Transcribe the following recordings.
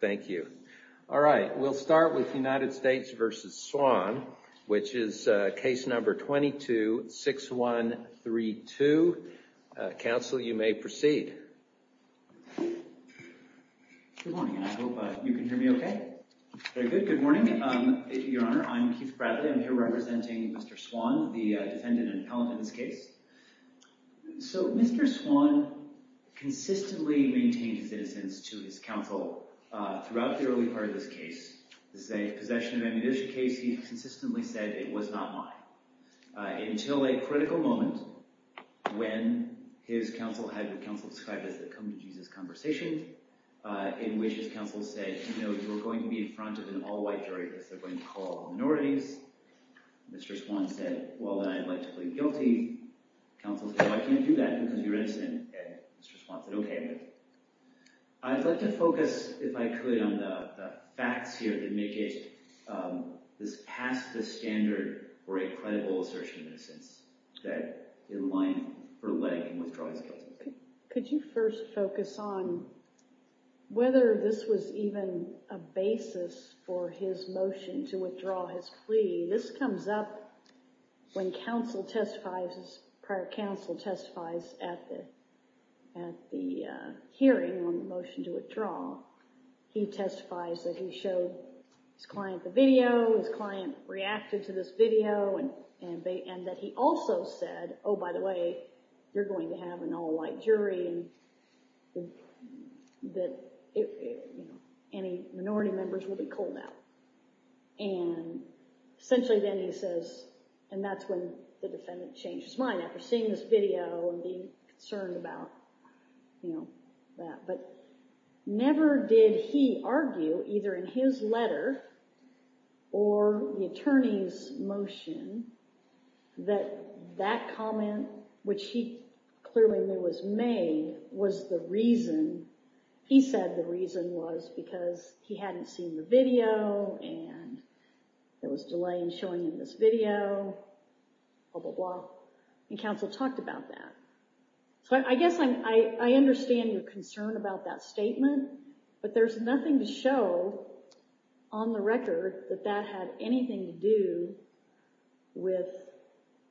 Thank you. All right, we'll start with United States v. Swan, which is case number 22-6132. Counsel, you may proceed. Good morning, and I hope you can hear me okay. Very good. Good morning, Your Honor. I'm Keith Bradley. I'm here representing Mr. Swan, the defendant and appellate in this case. So, Mr. Swan consistently maintained his innocence to his counsel throughout the early part of this case. This is a possession of ammunition case. He consistently said, it was not mine, until a critical moment when his counsel had what counsel described as the come-to-Jesus conversation, in which his counsel said, you know, you are going to be in front of an all-white jury because they're going to call all minorities. Mr. Swan said, well, then I'd like to plead guilty. Counsel said, well, I can't do that because you're innocent. Mr. Swan said, okay. I'd like to focus, if I could, on the facts here that make it this past the standard for a credible assertion of innocence that in line for leg and withdrawing is guilty. Could you first focus on whether this was even a basis for his motion to withdraw his plea? This comes up when counsel testifies, prior counsel testifies at the hearing on the motion to withdraw. He testifies that he showed his client the video, his client reacted to this video, and that he also said, oh, by the way, you're going to have an all-white jury and that any minority members will be called out. And essentially then he says, and that's when the defendant changed his mind after seeing this video and being concerned about, you know, that. But never did he argue, either in his letter or the attorney's motion, that that comment, which he clearly knew was made, was the reason, he said the reason was because he hadn't seen the video and there was delay in showing him this video, blah, blah, blah. And counsel talked about that. So I guess I understand your concern about that statement, but there's nothing to show on the record that that had anything to do with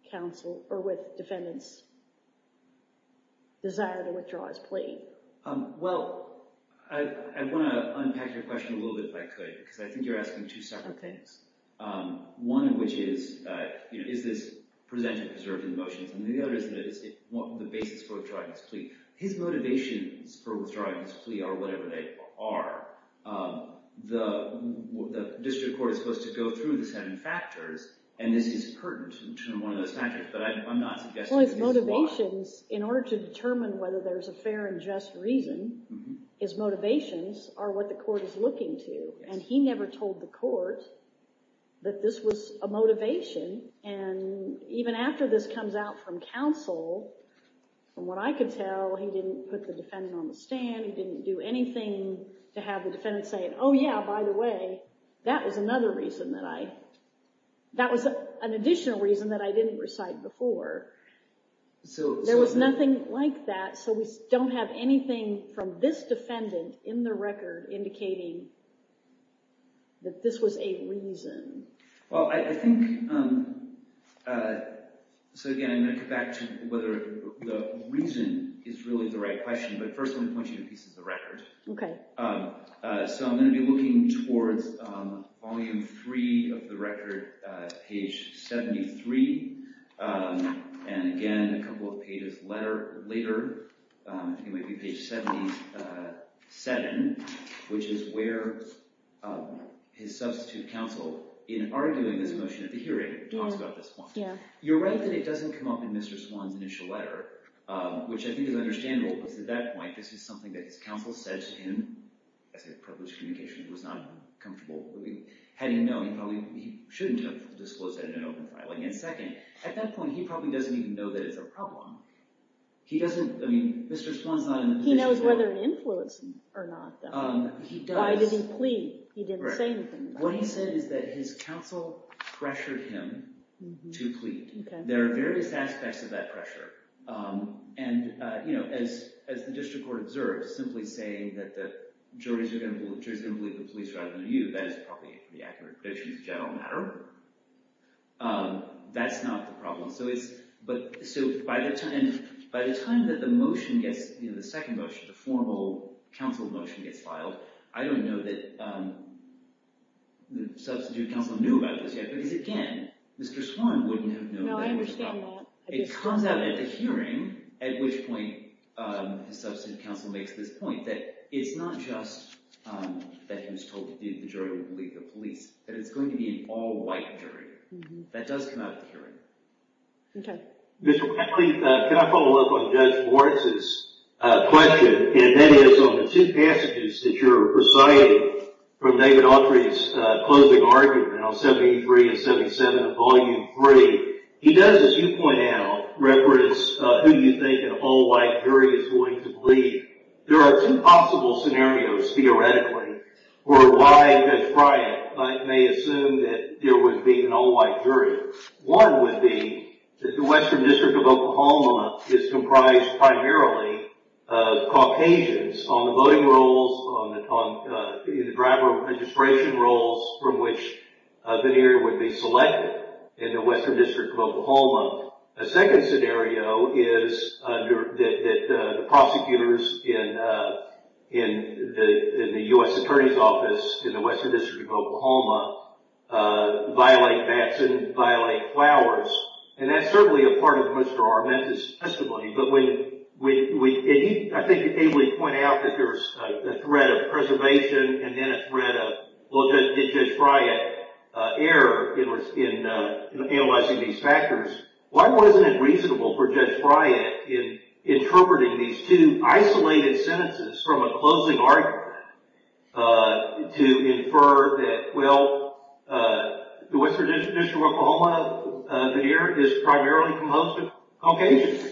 counsel or with defendant's desire to withdraw his plea. Well, I want to unpack your question a little bit, if I could, because I think you're asking two separate things. Okay. One of which is, you know, is this presented, preserved in the motions? And the other is, is it the basis for withdrawing his plea? His motivations for withdrawing his plea are whatever they are. The district court is supposed to go through the seven factors, and this is pertinent to one of those factors, but I'm not suggesting that this is why. Well, his motivations, in order to determine whether there's a fair and just reason, his motivations are what the court is looking to. And he never told the court that this was a motivation. And even after this comes out from counsel, from what I could tell, he didn't put the defendant on the stand, he didn't do anything to have the defendant say, oh, yeah, by the way, that was another reason that I, that was an additional reason that I didn't recite before. There was nothing like that, so we don't have anything from this defendant in the record indicating that this was a reason. Well, I think, so again, I'm going to go back to whether the reason is really the right question, but first let me point you to pieces of record. Okay. So I'm going to be looking towards volume three of the record, page 73. And again, a couple of pages later, it might be page 77, which is where his substitute counsel, in arguing this motion at the hearing, talks about this point. You're right that it doesn't come up in Mr. Swann's initial letter, which I think is understandable because at that point, this is something that his counsel said to him as a privileged communication, he was not comfortable, had he known, he probably, he shouldn't have disclosed that in an open filing. And second, at that point, he probably doesn't even know that it's a problem. He doesn't, I mean, Mr. Swann's not in a position to know. He knows whether an influence or not, though. He does. Why did he plead? He didn't say anything about it. What he said is that his counsel pressured him to plead. Okay. There are various aspects of that pressure. And, you know, as the district court observes, simply saying that the jurors are going to believe the police rather than you, that is probably the accurate prediction of the general matter. That's not the problem. So it's, but, so by the time that the motion gets, you know, the second motion, the formal counsel motion gets filed, I don't know that the substitute counsel knew about this yet because, again, Mr. Swann wouldn't have known that it was a problem. No, I understand that. It comes out at the hearing, at which point the substitute counsel makes this point that it's not just that he was told to plead the jury would believe the police, that it's going to be an all-white jury. That does come out at the hearing. Okay. Mr. Penley, can I follow up on Judge Lawrence's question? And that is on the two passages that you're reciting from David Autry's closing argument on 73 and 77 of Volume 3. He does, as you point out, reference who you think an all-white jury is going to believe. There are two possible scenarios, theoretically, where why Judge Bryant may assume that there would be an all-white jury. One would be that the Western District of Oklahoma is comprised primarily of Caucasians on the voting rolls, on the driver of registration rolls from which a veneer would be selected in the Western District of Oklahoma. A second scenario is that the prosecutors in the U.S. Attorney's Office in the Western District of Oklahoma would violate flowers, and that's certainly a part of Mr. Armenta's testimony. But when he, I think, ably pointed out that there's a threat of preservation and then a threat of, well, Judge Bryant's error in analyzing these factors, why wasn't it reasonable for Judge Bryant in interpreting these two isolated sentences from a closing argument to infer that, well, the Western District of Oklahoma veneer is primarily composed of Caucasians,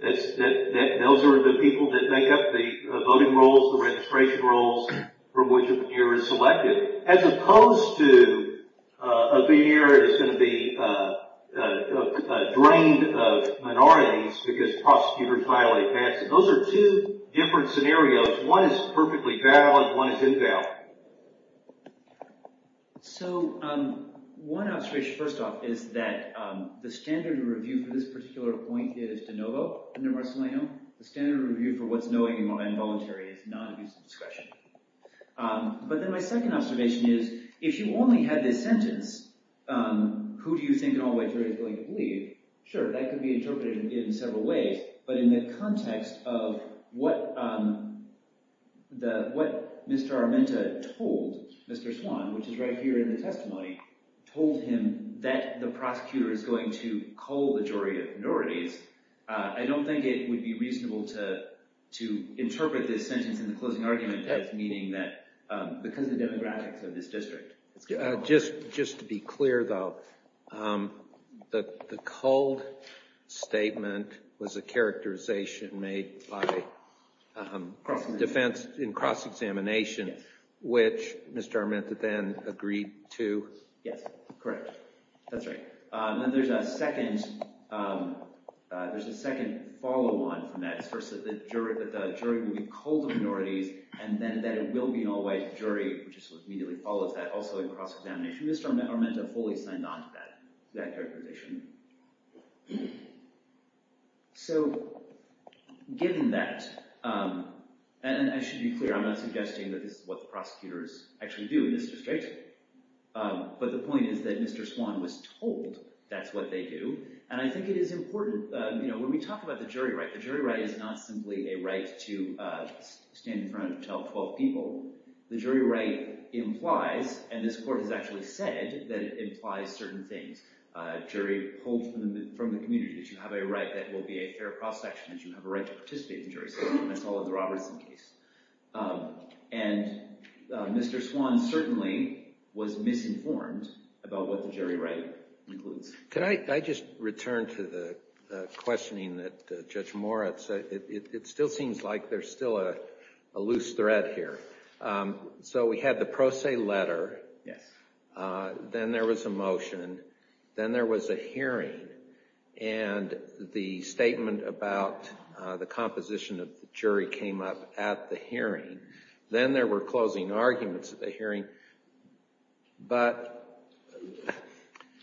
that those are the people that make up the voting rolls, the registration rolls from which a veneer is selected, as opposed to a veneer that is going to be drained of minorities because prosecutors violate that. So those are two different scenarios. One is perfectly valid. One is invalid. So one observation, first off, is that the standard of review for this particular point is de novo under Marcellino. The standard of review for what's knowing and voluntary is non-abusive discretion. But then my second observation is, if you only had this sentence, who do you think in all likelihood is going to believe, sure, that could be interpreted in several ways, but in the context of what Mr. Armenta told Mr. Swan, which is right here in the testimony, told him that the prosecutor is going to cull the jury of minorities, I don't think it would be reasonable to interpret this sentence in the closing argument as meaning that, because of the demographics of this district. Just to be clear, though, the culled statement was a characterization made by defense in cross-examination, which Mr. Armenta then agreed to? Yes. Correct. That's right. And then there's a second follow-on from that. First, that the jury would cull the minorities, and then that it will be an all-white jury, which immediately follows that, also in cross-examination. Mr. Armenta fully signed on to that characterization. So, given that, and I should be clear, I'm not suggesting that this is what the prosecutors actually do in this district, but the point is that Mr. Swan was told that's what they do, and I think it is important, when we talk about the jury right, the jury right is not simply a right to stand in front and tell 12 people. The jury right implies, and this court has actually said that it implies certain things. A jury pulled from the community, that you have a right that will be a fair cross-section, that you have a right to participate in the jury system. That's all in the Robertson case. And Mr. Swan certainly was misinformed about what the jury right includes. Can I just return to the questioning that Judge Moritz, it still seems like there's still a loose thread here. So, we had the pro se letter, then there was a motion, then there was a hearing, and the statement about the composition of the jury came up at the hearing. And then there were closing arguments at the hearing, but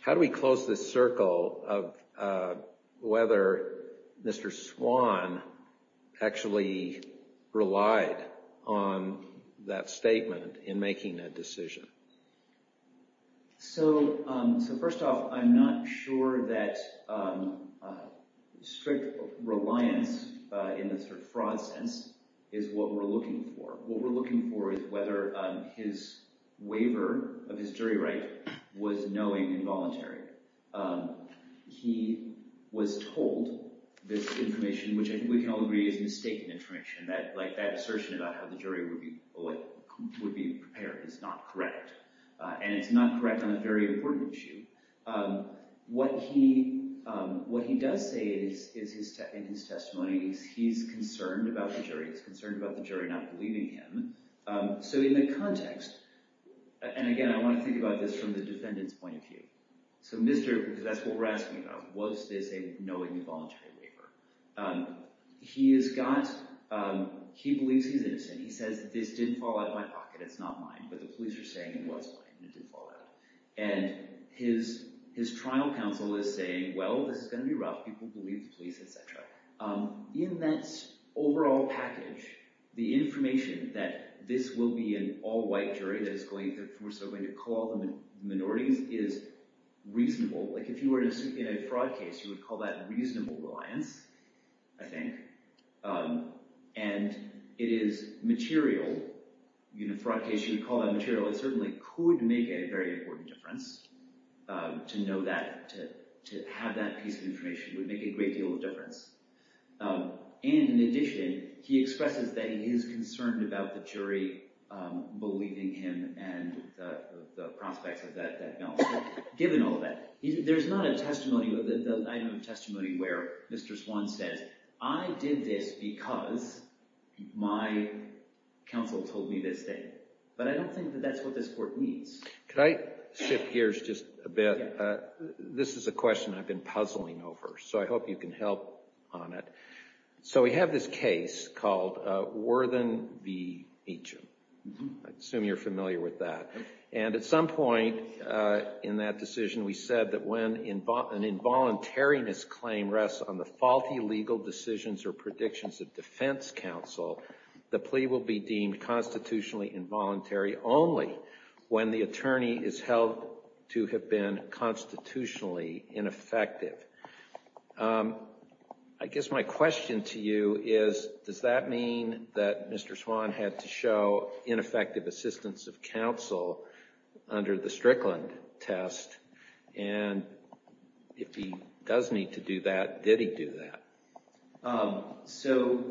how do we close this circle of whether Mr. Swan actually relied on that statement in making that decision? So, first off, I'm not sure that strict reliance in the fraud sense is what we're looking for. What we're looking for is whether his waiver of his jury right was knowing and voluntary. He was told this information, which I think we can all agree is mistaken information. That assertion about how the jury would be prepared is not correct. And it's not correct on a very important issue. What he does say in his testimony is he's concerned about the jury. He's concerned about the jury not believing him. So, in the context, and again, I want to think about this from the defendant's point of view. So, that's what we're asking about. Was this a knowing and voluntary waiver? He believes he's innocent. He says, this didn't fall out of my pocket. It's not mine, but the police are saying it was mine. It didn't fall out. And his trial counsel is saying, well, this is going to be rough. People believe the police, et cetera. In that overall package, the information that this will be an all-white jury, that we're still going to call the minorities, is reasonable. Like if you were in a fraud case, you would call that reasonable reliance, I think. And it is material. In a fraud case, you would call that material. It certainly could make a very important difference to know that. To have that piece of information would make a great deal of difference. And in addition, he expresses that he is concerned about the jury believing him and the prospects of that balance. Given all that, there's not a testimony where Mr. Swan says, I did this because my counsel told me this day. But I don't think that that's what this court needs. Could I shift gears just a bit? This is a question I've been puzzling over, so I hope you can help on it. So we have this case called Worthen v. Meacham. I assume you're familiar with that. And at some point in that decision, we said that when an involuntary misclaim rests on the faulty legal decisions or predictions of defense counsel, the plea will be deemed constitutionally involuntary only when the attorney is held to have been constitutionally ineffective. I guess my question to you is, does that mean that Mr. Swan had to show ineffective assistance of counsel under the Strickland test? And if he does need to do that, did he do that? So,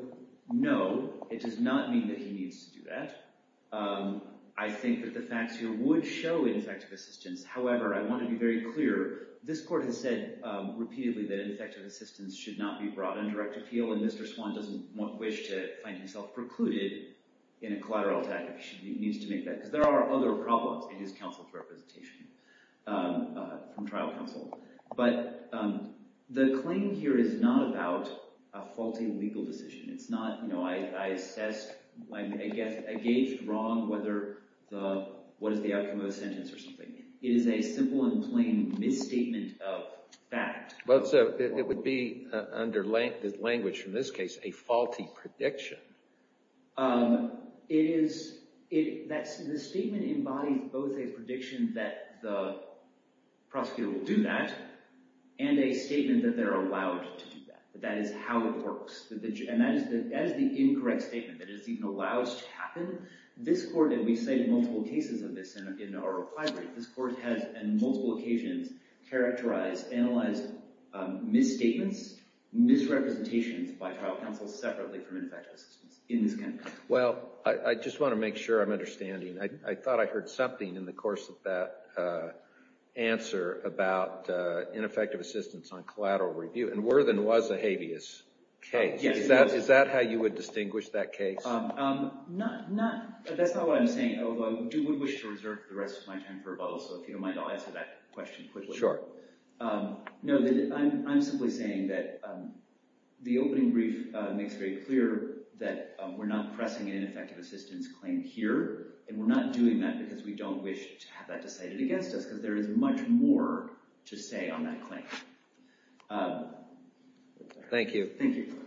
no, it does not mean that he needs to do that. I think that the facts here would show ineffective assistance. However, I want to be very clear, this court has said repeatedly that ineffective assistance should not be brought under active appeal, and Mr. Swan doesn't wish to find himself precluded in a collateral attack if he needs to make that. Because there are other problems in his counsel's representation from trial counsel. But the claim here is not about a faulty legal decision. It's not, you know, I assessed, I guess, I gauged wrong what is the outcome of a sentence or something. It is a simple and plain misstatement of fact. Well, so it would be, under the language from this case, a faulty prediction. It is, the statement embodies both a prediction that the prosecutor will do that and a statement that they're allowed to do that. That is how it works. And that is the incorrect statement, that it is even allowed to happen. This court, and we've cited multiple cases of this in our reply brief, this court has, on multiple occasions, characterized, analyzed misstatements, misrepresentations by trial counsel separately from ineffective assistance in this kind of case. Well, I just want to make sure I'm understanding. I thought I heard something in the course of that answer about ineffective assistance on collateral review. And Worthen was a habeas case. Is that how you would distinguish that case? That's not what I'm saying, although I would wish to reserve the rest of my time for rebuttal, so if you don't mind, I'll answer that question quickly. Sure. No, I'm simply saying that the opening brief makes very clear that we're not pressing an ineffective assistance claim here, and we're not doing that because we don't wish to have that decided against us, because there is much more to say on that claim. Thank you. Thank you. Thank you.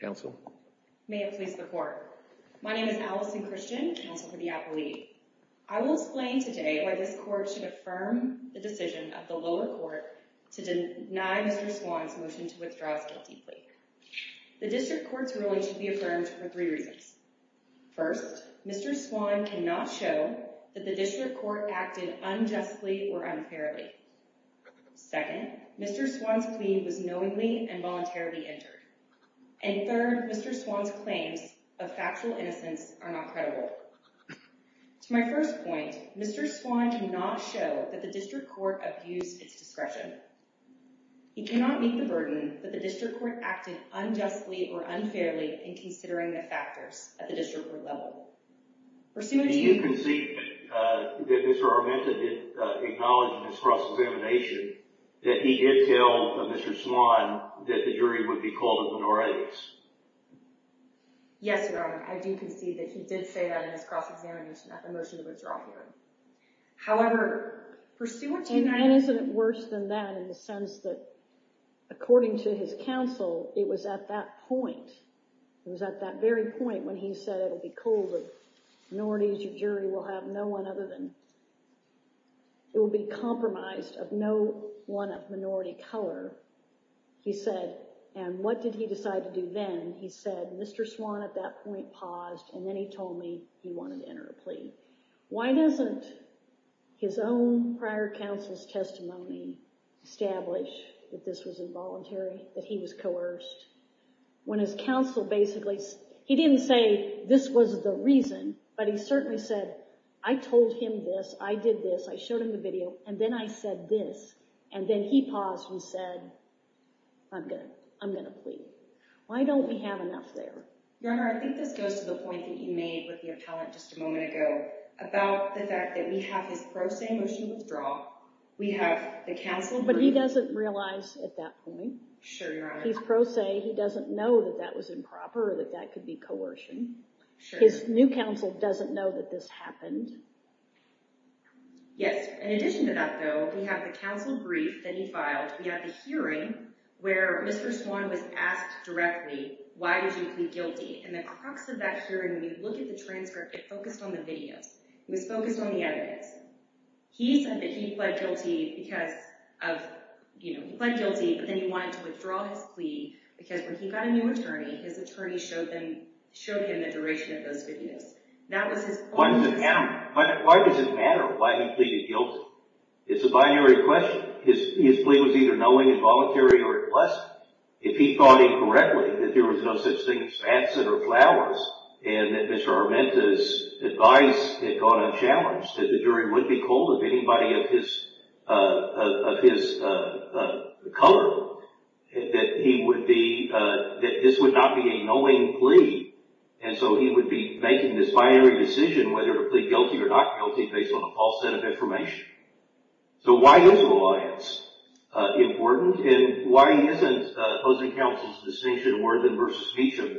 Counsel. May it please the Court. My name is Allison Christian, counsel for the appellee. I will explain today why this court should affirm the decision of the lower court to deny Mr. Swan's motion to withdraw his guilty plea. The district court's ruling should be affirmed for three reasons. First, Mr. Swan cannot show that the district court acted unjustly or unfairly. Second, Mr. Swan's plea was knowingly and voluntarily entered. And third, Mr. Swan's claims of factual innocence are not credible. To my first point, Mr. Swan cannot show that the district court abused its discretion. He cannot meet the burden that the district court acted unjustly or unfairly in considering the factors at the district court level. Pursuant to you- Do you concede that Mr. Armenta did acknowledge in his cross-examination that he did tell Mr. Swan that the jury would be called a minorities? Yes, Your Honor, I do concede that he did say that in his cross-examination at the motion to withdraw hearing. However, pursuant to- And isn't it worse than that in the sense that, according to his counsel, it was at that point, it was at that very point when he said, it will be called a minorities, your jury will have no one other than- it will be compromised of no one of minority color. He said, and what did he decide to do then? He said, Mr. Swan at that point paused, and then he told me he wanted to enter a plea. Why doesn't his own prior counsel's testimony establish that this was involuntary, that he was coerced, when his counsel basically- he didn't say this was the reason, but he certainly said, I told him this, I did this, I showed him the video, and then I said this, and then he paused and said, I'm going to plead. Why don't we have enough there? Your Honor, I think this goes to the point that you made with the appellant just a moment ago about the fact that we have his pro se motion to withdraw, we have the counsel- But he doesn't realize at that point. Sure, Your Honor. His pro se, he doesn't know that that was improper or that that could be coercion. Sure. His new counsel doesn't know that this happened. Yes. In addition to that, though, we have the counsel brief that he filed. We have the hearing where Mr. Swan was asked directly, why did you plead guilty? And the crux of that hearing, when you look at the transcript, it focused on the videos. It was focused on the evidence. He said that he pled guilty because of- he pled guilty, but then he wanted to withdraw his plea because when he got a new attorney, his attorney showed him the duration of those videos. That was his point. Why does it matter why he pleaded guilty? It's a binary question. His plea was either knowing, involuntary, or a blessing. If he thought incorrectly that there was no such thing as fancy or flowers and that Mr. Armenta's advice had gone unchallenged, that the jury would be cold of anybody of his color, that he would be- that this would not be a knowing plea, and so he would be making this binary decision whether to plead guilty or not guilty based on a false set of information. So why is reliance important, and why isn't opposing counsel's distinction more than versus Meacham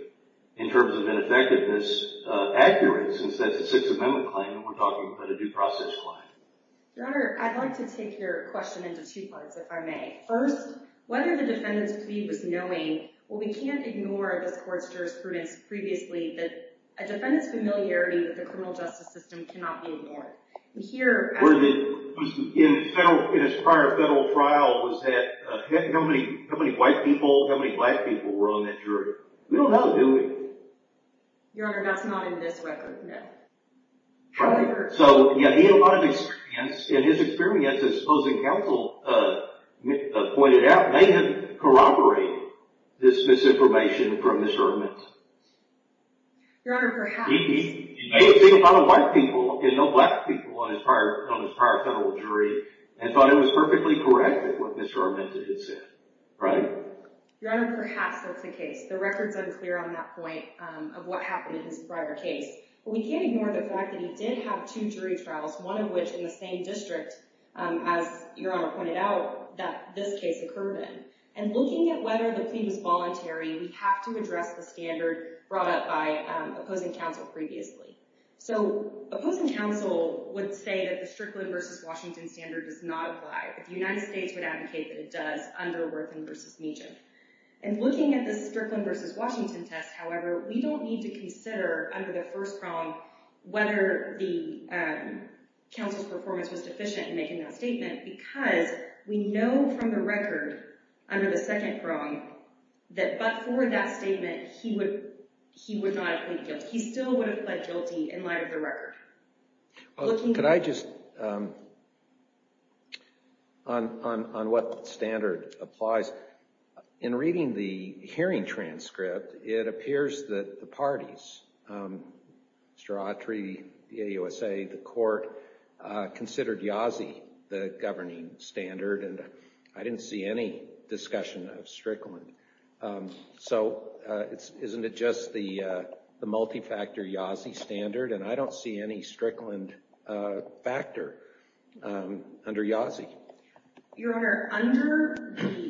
in terms of ineffectiveness accurate, since that's a Sixth Amendment claim and we're talking about a due process claim? Your Honor, I'd like to take your question into two parts, if I may. First, whether the defendant's plea was knowing, well, we can't ignore this court's jurisprudence previously In his prior federal trial, was that- how many white people, how many black people were on that jury? We don't know, do we? Your Honor, that's not in this record, no. So, yeah, he had a lot of experience, and his experience, as opposing counsel pointed out, may have corroborated this misinformation from Mr. Armenta. Your Honor, perhaps. He may have seen a lot of white people and no black people on his prior federal jury and thought it was perfectly correct what Mr. Armenta had said, right? Your Honor, perhaps that's the case. The record's unclear on that point of what happened in his prior case. But we can't ignore the fact that he did have two jury trials, one of which in the same district, as Your Honor pointed out, that this case occurred in. And looking at whether the plea was voluntary, we have to address the standard brought up by opposing counsel previously. So, opposing counsel would say that the Strickland v. Washington standard does not apply. The United States would advocate that it does under Worthing v. Meechan. And looking at the Strickland v. Washington test, however, we don't need to consider, under the first prong, whether the counsel's performance was deficient in making that statement, because we know from the record, under the second prong, that but for that statement, he would not have pleaded guilty. He still would have pled guilty in light of the record. Could I just, on what standard applies, in reading the hearing transcript, it appears that the parties, Mr. Autry, the AUSA, the court, considered Yazzie the governing standard, and I didn't see any discussion of Strickland. So, isn't it just the multi-factor Yazzie standard? And I don't see any Strickland factor under Yazzie. Your Honor, under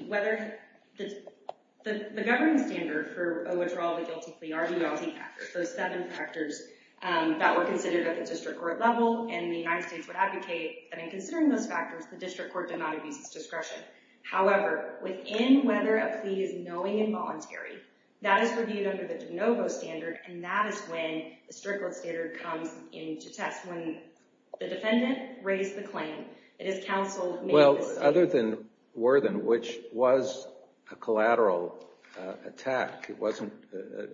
whether the governing standard for withdrawal of a guilty plea are the Yazzie factors, those seven factors that were considered at the district court level, and the United States would advocate that in considering those factors, the district court did not abuse its discretion. However, within whether a plea is knowing and voluntary, that is reviewed under the de novo standard, and that is when the Strickland standard comes into test. When the defendant raised the claim, it is counsel made the statement. Well, other than Worthing, which was a collateral attack, it wasn't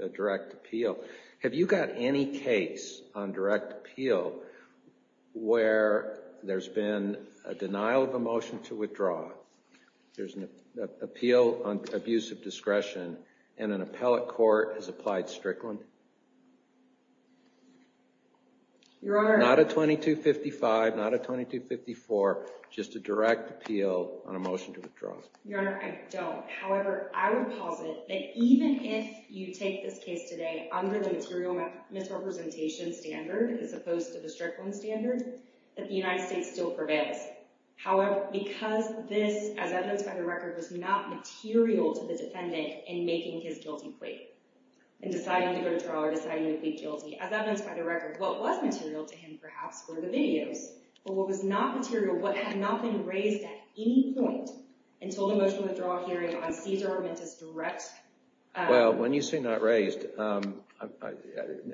a direct appeal, have you got any case on direct appeal where there's been a denial of a motion to withdraw, there's an appeal on abuse of discretion, and an appellate court has applied Strickland? Not a 2255, not a 2254, just a direct appeal on a motion to withdraw. Your Honor, I don't. However, I would posit that even if you take this case today under the material misrepresentation standard as opposed to the Strickland standard, that the United States still prevails. However, because this, as evidenced by the record, was not material to the defendant in making his guilty plea, in deciding to go to trial or deciding to plead guilty, as evidenced by the record, what was material to him perhaps were the videos, but what was not material, what had not been raised at any point until the motion to withdraw hearing on Cesar Armante's direct... Well, when you say not raised,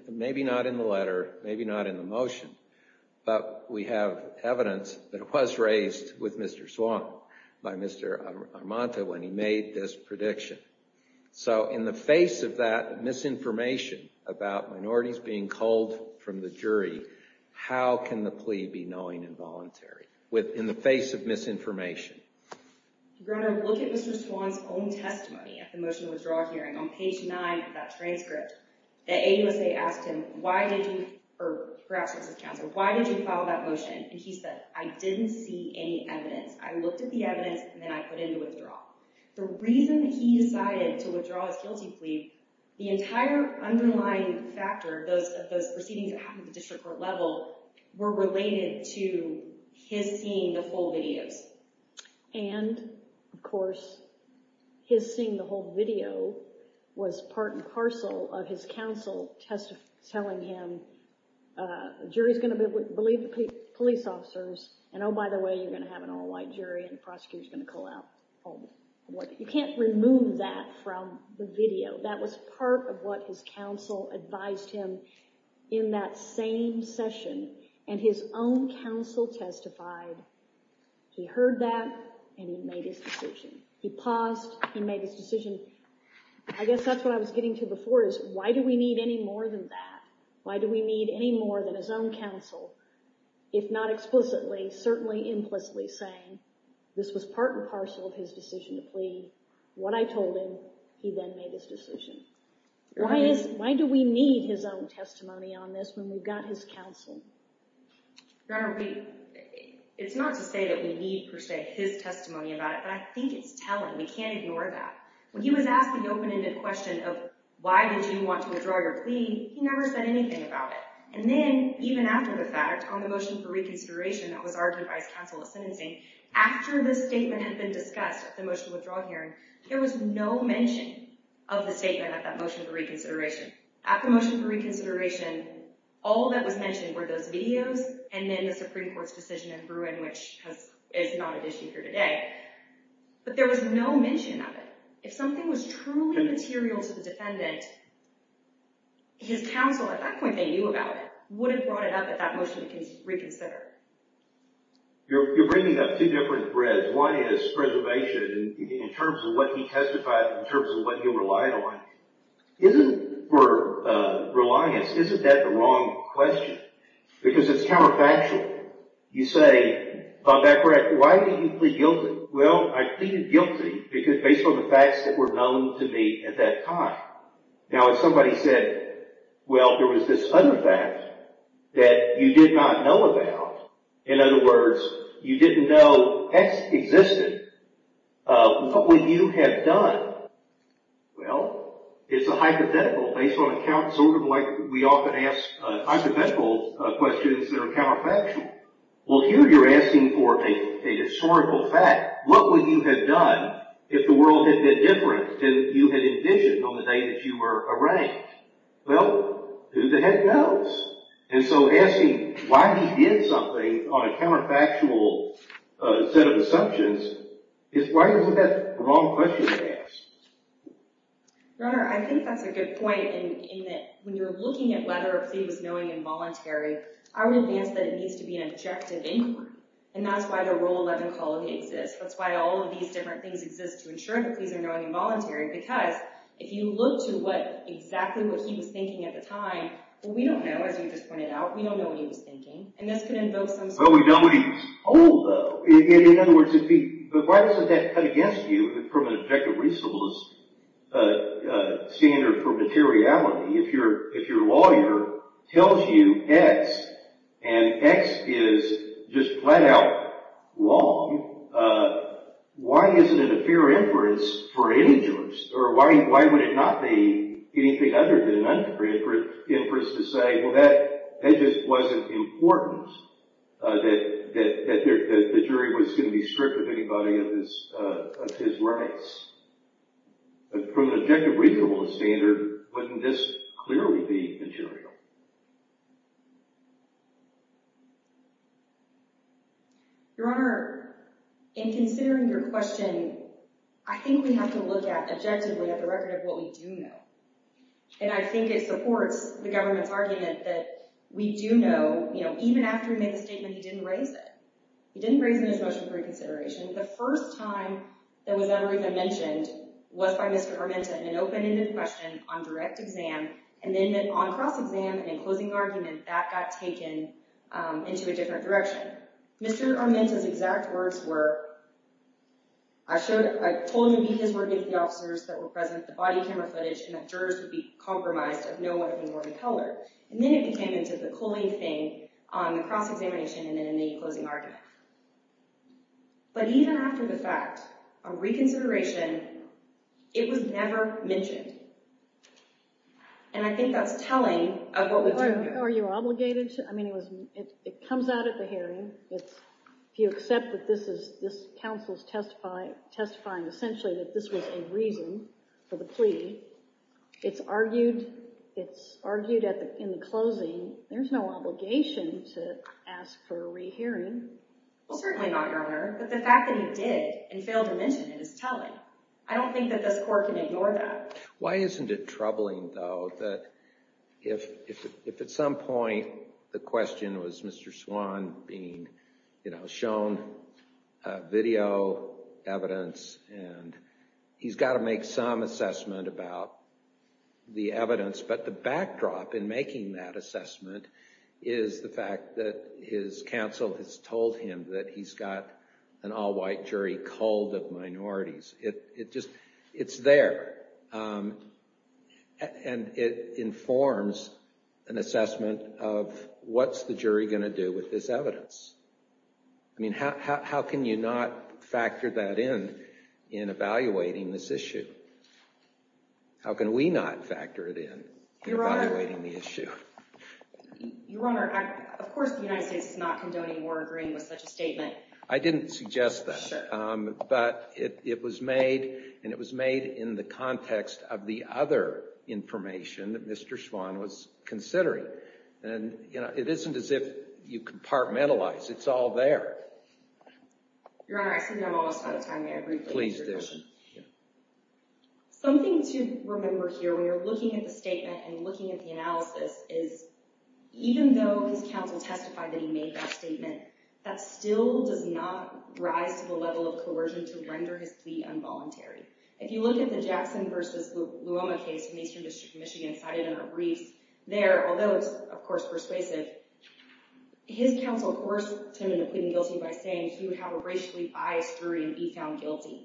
maybe not in the letter, maybe not in the motion, but we have evidence that it was raised with Mr. Swann by Mr. Armante when he made this prediction. So in the face of that misinformation about minorities being culled from the jury, how can the plea be knowing and voluntary? In the face of misinformation. Your Honor, look at Mr. Swann's own testimony at the motion to withdraw hearing. On page 9 of that transcript, the AUSA asked him, why did you, or perhaps it was his counselor, why did you file that motion? And he said, I didn't see any evidence. I looked at the evidence and then I put in the withdrawal. The reason that he decided to withdraw his guilty plea, the entire underlying factor of those proceedings at the district court level were related to his seeing the full videos. And, of course, his seeing the whole video was part and parcel of his counsel telling him, the jury's going to believe the police officers, and oh, by the way, you're going to have an all-white jury and the prosecutor's going to cull out all... You can't remove that from the video. That was part of what his counsel advised him in that same session. And his own counsel testified. He heard that and he made his decision. He paused, he made his decision. I guess that's what I was getting to before is, why do we need any more than that? Why do we need any more than his own counsel, if not explicitly, certainly implicitly saying, this was part and parcel of his decision to plead. What I told him, he then made his decision. Why do we need his own testimony on this when we've got his counsel? Your Honor, it's not to say that we need, per se, his testimony about it, but I think it's telling. We can't ignore that. When he was asked the open-ended question of, why did you want to withdraw your plea, he never said anything about it. And then, even after the fact, on the motion for reconsideration that was argued by his counsel at sentencing, after the statement had been discussed at the motion for withdrawal hearing, there was no mention of the statement at that motion for reconsideration. After the motion for reconsideration, all that was mentioned were those videos and then the Supreme Court's decision in Bruin, which is not at issue here today. But there was no mention of it. If something was truly material to the defendant, his counsel at that point they knew about it, would have brought it up at that motion to reconsider. You're bringing up two different threads. One is preservation in terms of what he testified, in terms of what he relied on. Isn't, for reliance, isn't that the wrong question? Because it's counterfactual. You say, Bob Becker, why did you plead guilty? Well, I pleaded guilty because, based on the facts that were known to me at that time. Now, if somebody said, well, there was this other fact that you did not know about. In other words, you didn't know X existed. What would you have done? Well, it's a hypothetical. Based on accounts, sort of like we often ask hypothetical questions that are counterfactual. Well, here you're asking for a historical fact. What would you have done if the world had been different than you had envisioned on the day that you were arraigned? Well, who the heck knows? And so, asking why he did something on a counterfactual set of assumptions, why isn't that the wrong question to ask? Your Honor, I think that's a good point in that when you're looking at whether a plea was knowing and voluntary, I would advance that it needs to be an objective inquiry. And that's why the Rule 11 colony exists. That's why all of these different things exist to ensure that pleas are knowing and voluntary, because if you look to exactly what he was thinking at the time, well, we don't know, as you just pointed out. We don't know what he was thinking. Well, we know what he was told, though. In other words, but why doesn't that cut against you from an objective reasonableness standard for materiality? If your lawyer tells you X, and X is just flat-out wrong, why isn't it a fair inference for any jurors? Or why would it not be anything other than an inference to say, well, that just wasn't important, that the jury was going to be strict with anybody of his rights? From an objective reasonableness standard, wouldn't this clearly be material? Your Honor, in considering your question, I think we have to look at, objectively, at the record of what we do know. And I think it supports the government's argument that we do know, even after he made the statement, he didn't raise it. He didn't raise it in his motion for reconsideration. The first time that was ever even mentioned was by Mr. Armenta in an open-ended question on direct exam, and then on cross-exam and in closing argument, that got taken into a different direction. Mr. Armenta's exact words were, I've told you because we're giving the officers that were present the body camera footage and that jurors would be compromised if no one had been born of color. And then it became into the Colleen thing on the cross-examination and then in the closing argument. But even after the fact, on reconsideration, it was never mentioned. And I think that's telling of what we do know. Are you obligated to? I mean, it comes out at the hearing. If you accept that this council is testifying essentially that this was a reason for the plea, it's argued in the closing, there's no obligation to ask for a re-hearing. Well, certainly not, Your Honor. But the fact that he did and failed to mention it is telling. I don't think that this court can ignore that. Why isn't it troubling, though, that if at some point the question was Mr. Swan being shown video evidence and he's got to make some assessment about the evidence, but the backdrop in making that assessment is the fact that his counsel has told him that he's got an all-white jury culled of minorities. It's there. And it informs an assessment of what's the jury going to do with this evidence. I mean, how can you not factor that in in evaluating this issue? How can we not factor it in in evaluating the issue? Your Honor, of course the United States is not condoning or agreeing with such a statement. I didn't suggest that. But it was made, and it was made in the context of the other information that Mr. Swan was considering. And it isn't as if you compartmentalize. It's all there. Your Honor, I think I'm almost out of time. Please do. Something to remember here when you're looking at the statement and looking at the analysis is even though his counsel testified that he made that statement, that still does not rise to the level of coercion to render his plea involuntary. If you look at the Jackson v. Luoma case in the Eastern District of Michigan cited in our briefs, there, although it's of course persuasive, his counsel coerced him into pleading guilty by saying he would have a racially biased jury and be found guilty.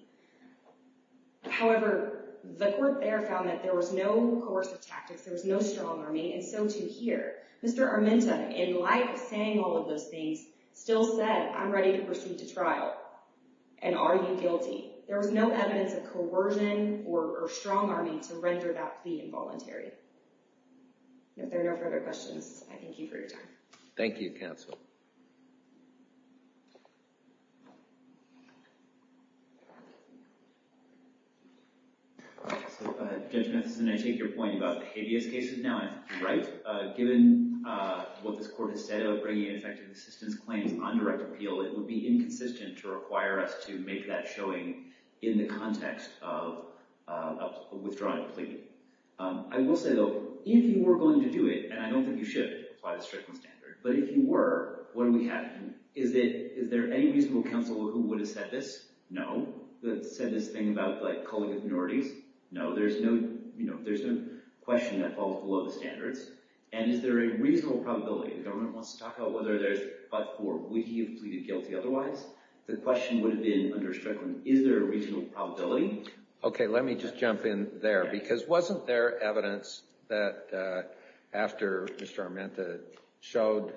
However, the court there found that there was no coercive tactics, there was no strong army, and so too here. Mr. Armenta, in light of saying all of those things, still said, I'm ready to pursue to trial. And are you guilty? There was no evidence of coercion or strong army to render that plea involuntary. If there are no further questions, I thank you for your time. Thank you, counsel. Judge Matheson, I take your point about the habeas cases now, right? Given what this court has said of bringing ineffective assistance claims on direct appeal, it would be inconsistent to require us to make that showing in the context of withdrawing a plea. I will say though, if you were going to do it, and I don't think you should apply the Strickland standard, but if you were, what would happen? Is there any reasonable counsel who would have said this? No. That said this thing about calling it minorities? No. There's no question that falls below the standards. And is there a reasonable probability, the government wants to talk about whether there's but-for, would he have pleaded guilty otherwise? The question would have been under Strickland, is there a reasonable probability? Okay, let me just jump in there, because wasn't there evidence that after Mr. Armenta showed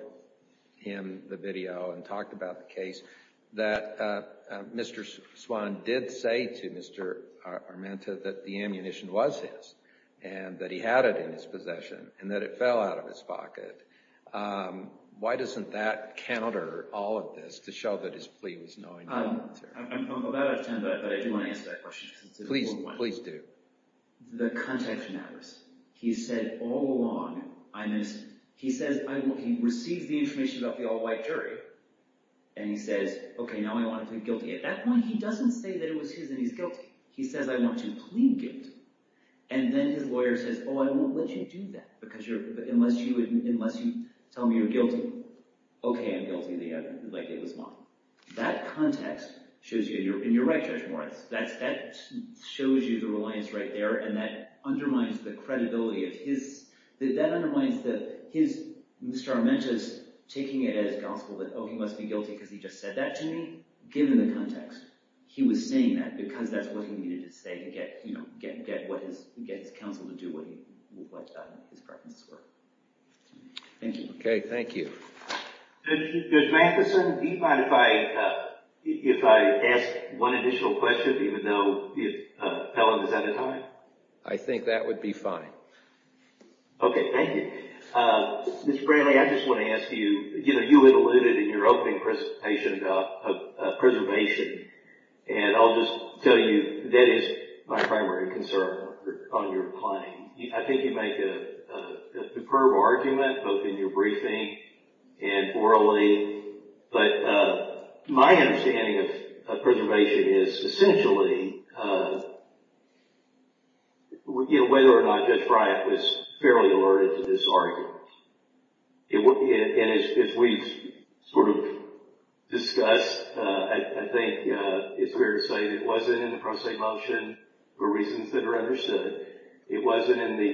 in the video and talked about the case that Mr. Swan did say to Mr. Armenta that the ammunition was his and that he had it in his possession and that it fell out of his pocket? Why doesn't that counter all of this to show that his plea was knowingly unfair? I'm about out of time, but I do want to answer that question, because it's an important one. Please do. The context matters. He said all along, he receives the information about the all-white jury, and he says, okay, now I want to plead guilty. At that point, he doesn't say that it was his and he's guilty. He says, I want to plead guilty. And then his lawyer says, oh, I won't let you do that, unless you tell me you're guilty. Okay, I'm guilty, like it was mine. That context shows you, and you're right, Judge Morris, that shows you the reliance right there, and that undermines the credibility of his, that undermines his, Mr. Armenta's taking it as gospel that, oh, he must be guilty because he just said that to me. Given the context, he was saying that because that's what he needed to say to get his counsel to do what his preferences were. Thank you. Okay, thank you. Judge Matheson, do you mind if I, if I ask one additional question, even though Helen is out of time? I think that would be fine. Okay, thank you. Mr. Bradley, I just want to ask you, you know, you had alluded in your opening presentation about preservation, and I'll just tell you that is my primary concern on your claim. I think you make a superb argument, both in your briefing and orally, but my understanding of preservation is essentially, you know, whether or not Judge Bryant was fairly alerted to this argument. And if we sort of discuss, I think it's fair to say that it wasn't in the pro se motion for reasons that are understood. It wasn't in the,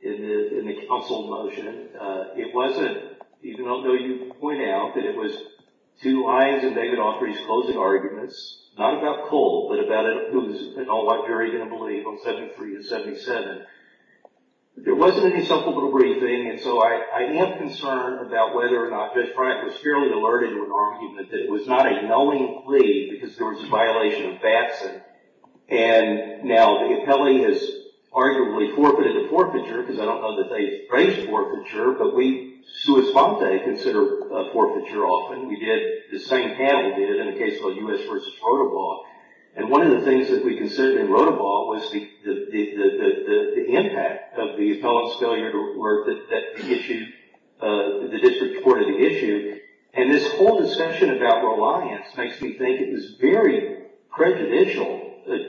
in the counsel motion. It wasn't, even though you point out that it was two lines in David Offrey's closing arguments, not about Cole, but about who's, and what Gary's going to believe on 73 and 77. There wasn't any simple little briefing, and so I am concerned about whether or not Judge Bryant was fairly alerted to an argument that it was not a knowing plea because there was a violation of facts, and now the appellee has arguably forfeited the forfeiture, because I don't know that they trace forfeiture, but we, sua sponte, consider forfeiture often. We did, the same panel did in a case called U.S. v. Rotoball, and one of the things that we considered in Rotoball was the impact of the appellant's failure to work that issued the district court of the issue, and this whole discussion about reliance makes me think it was very prejudicial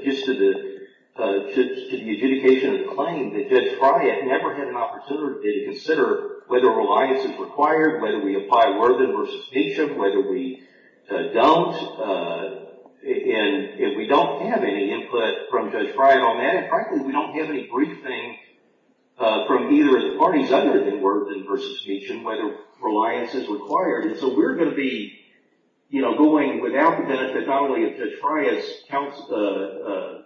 just to the, to the adjudication of the claim that Judge Bryant never had an opportunity to consider whether reliance is required, whether we apply Worthen v. Meacham, whether we don't, and if we don't have any input from Judge Bryant on that, and frankly, we don't have any briefing from either of the parties other than Worthen v. Meacham whether reliance is required, and so we're going to be, you know, going without the benefit not only of Judge Bryant's counsel,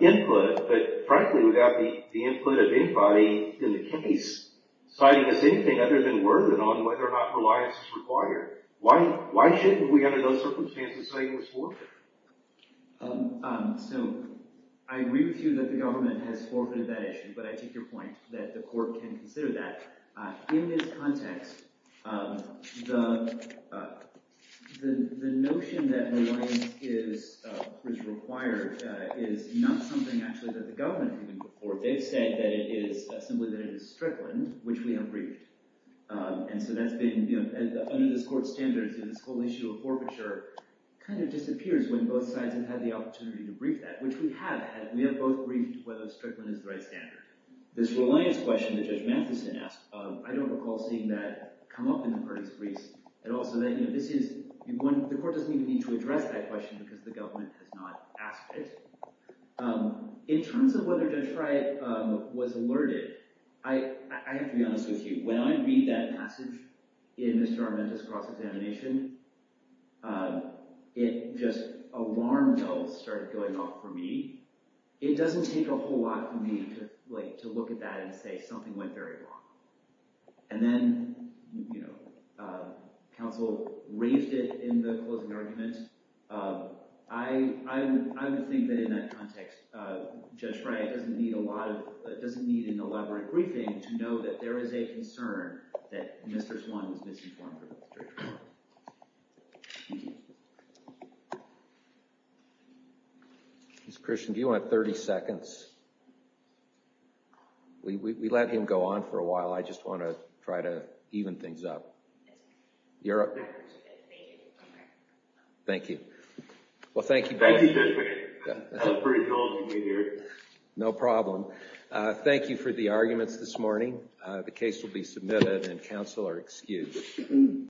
input, but frankly, without the input of anybody in the case citing us anything other than Worthen on whether or not reliance is required. Why, why shouldn't we, under those circumstances, say it was forfeited? So, I agree with you that the government has forfeited that issue, but I take your point that the court can consider that. In this context, the, the notion that reliance is, is required is not something actually that the government has even put forth. They've said that it is, that simply that it is strickland, which we have briefed, and so that's been, you know, under this court's standards, this whole issue of forfeiture kind of disappears when both sides have had the opportunity to brief that, which we have, we have both briefed whether strickland is the right standard. This reliance question that Judge Matheson asked, I don't recall seeing that come up in the parties briefs at all, so that, you know, this is, the court doesn't even need to address that question because the government has not asked it. In terms of whether Detroit was alerted, I, I have to be honest with you. When I read that message in Mr. Armenta's cross-examination, it just, alarm bells started going off for me. It doesn't take a whole lot for me to, went very wrong. And then, you know, counsel raised it in the closing argument. I, I, I, I, I, I, I, I, I would, I would think that in that context, Judge Wright doesn't need a lot of, doesn't need an elaborate briefing to know that there is a concern that Mr. Swan was misinformed about the Detroit trial. Thank you. Mr. Christian, do you want 30 seconds? We, we let him go on for a while. I just want to try to even things up. You're, thank you. Well, thank you both for your time. Thank you. No problem. Thank you for the arguments this morning. The case will be submitted and counsel are excused.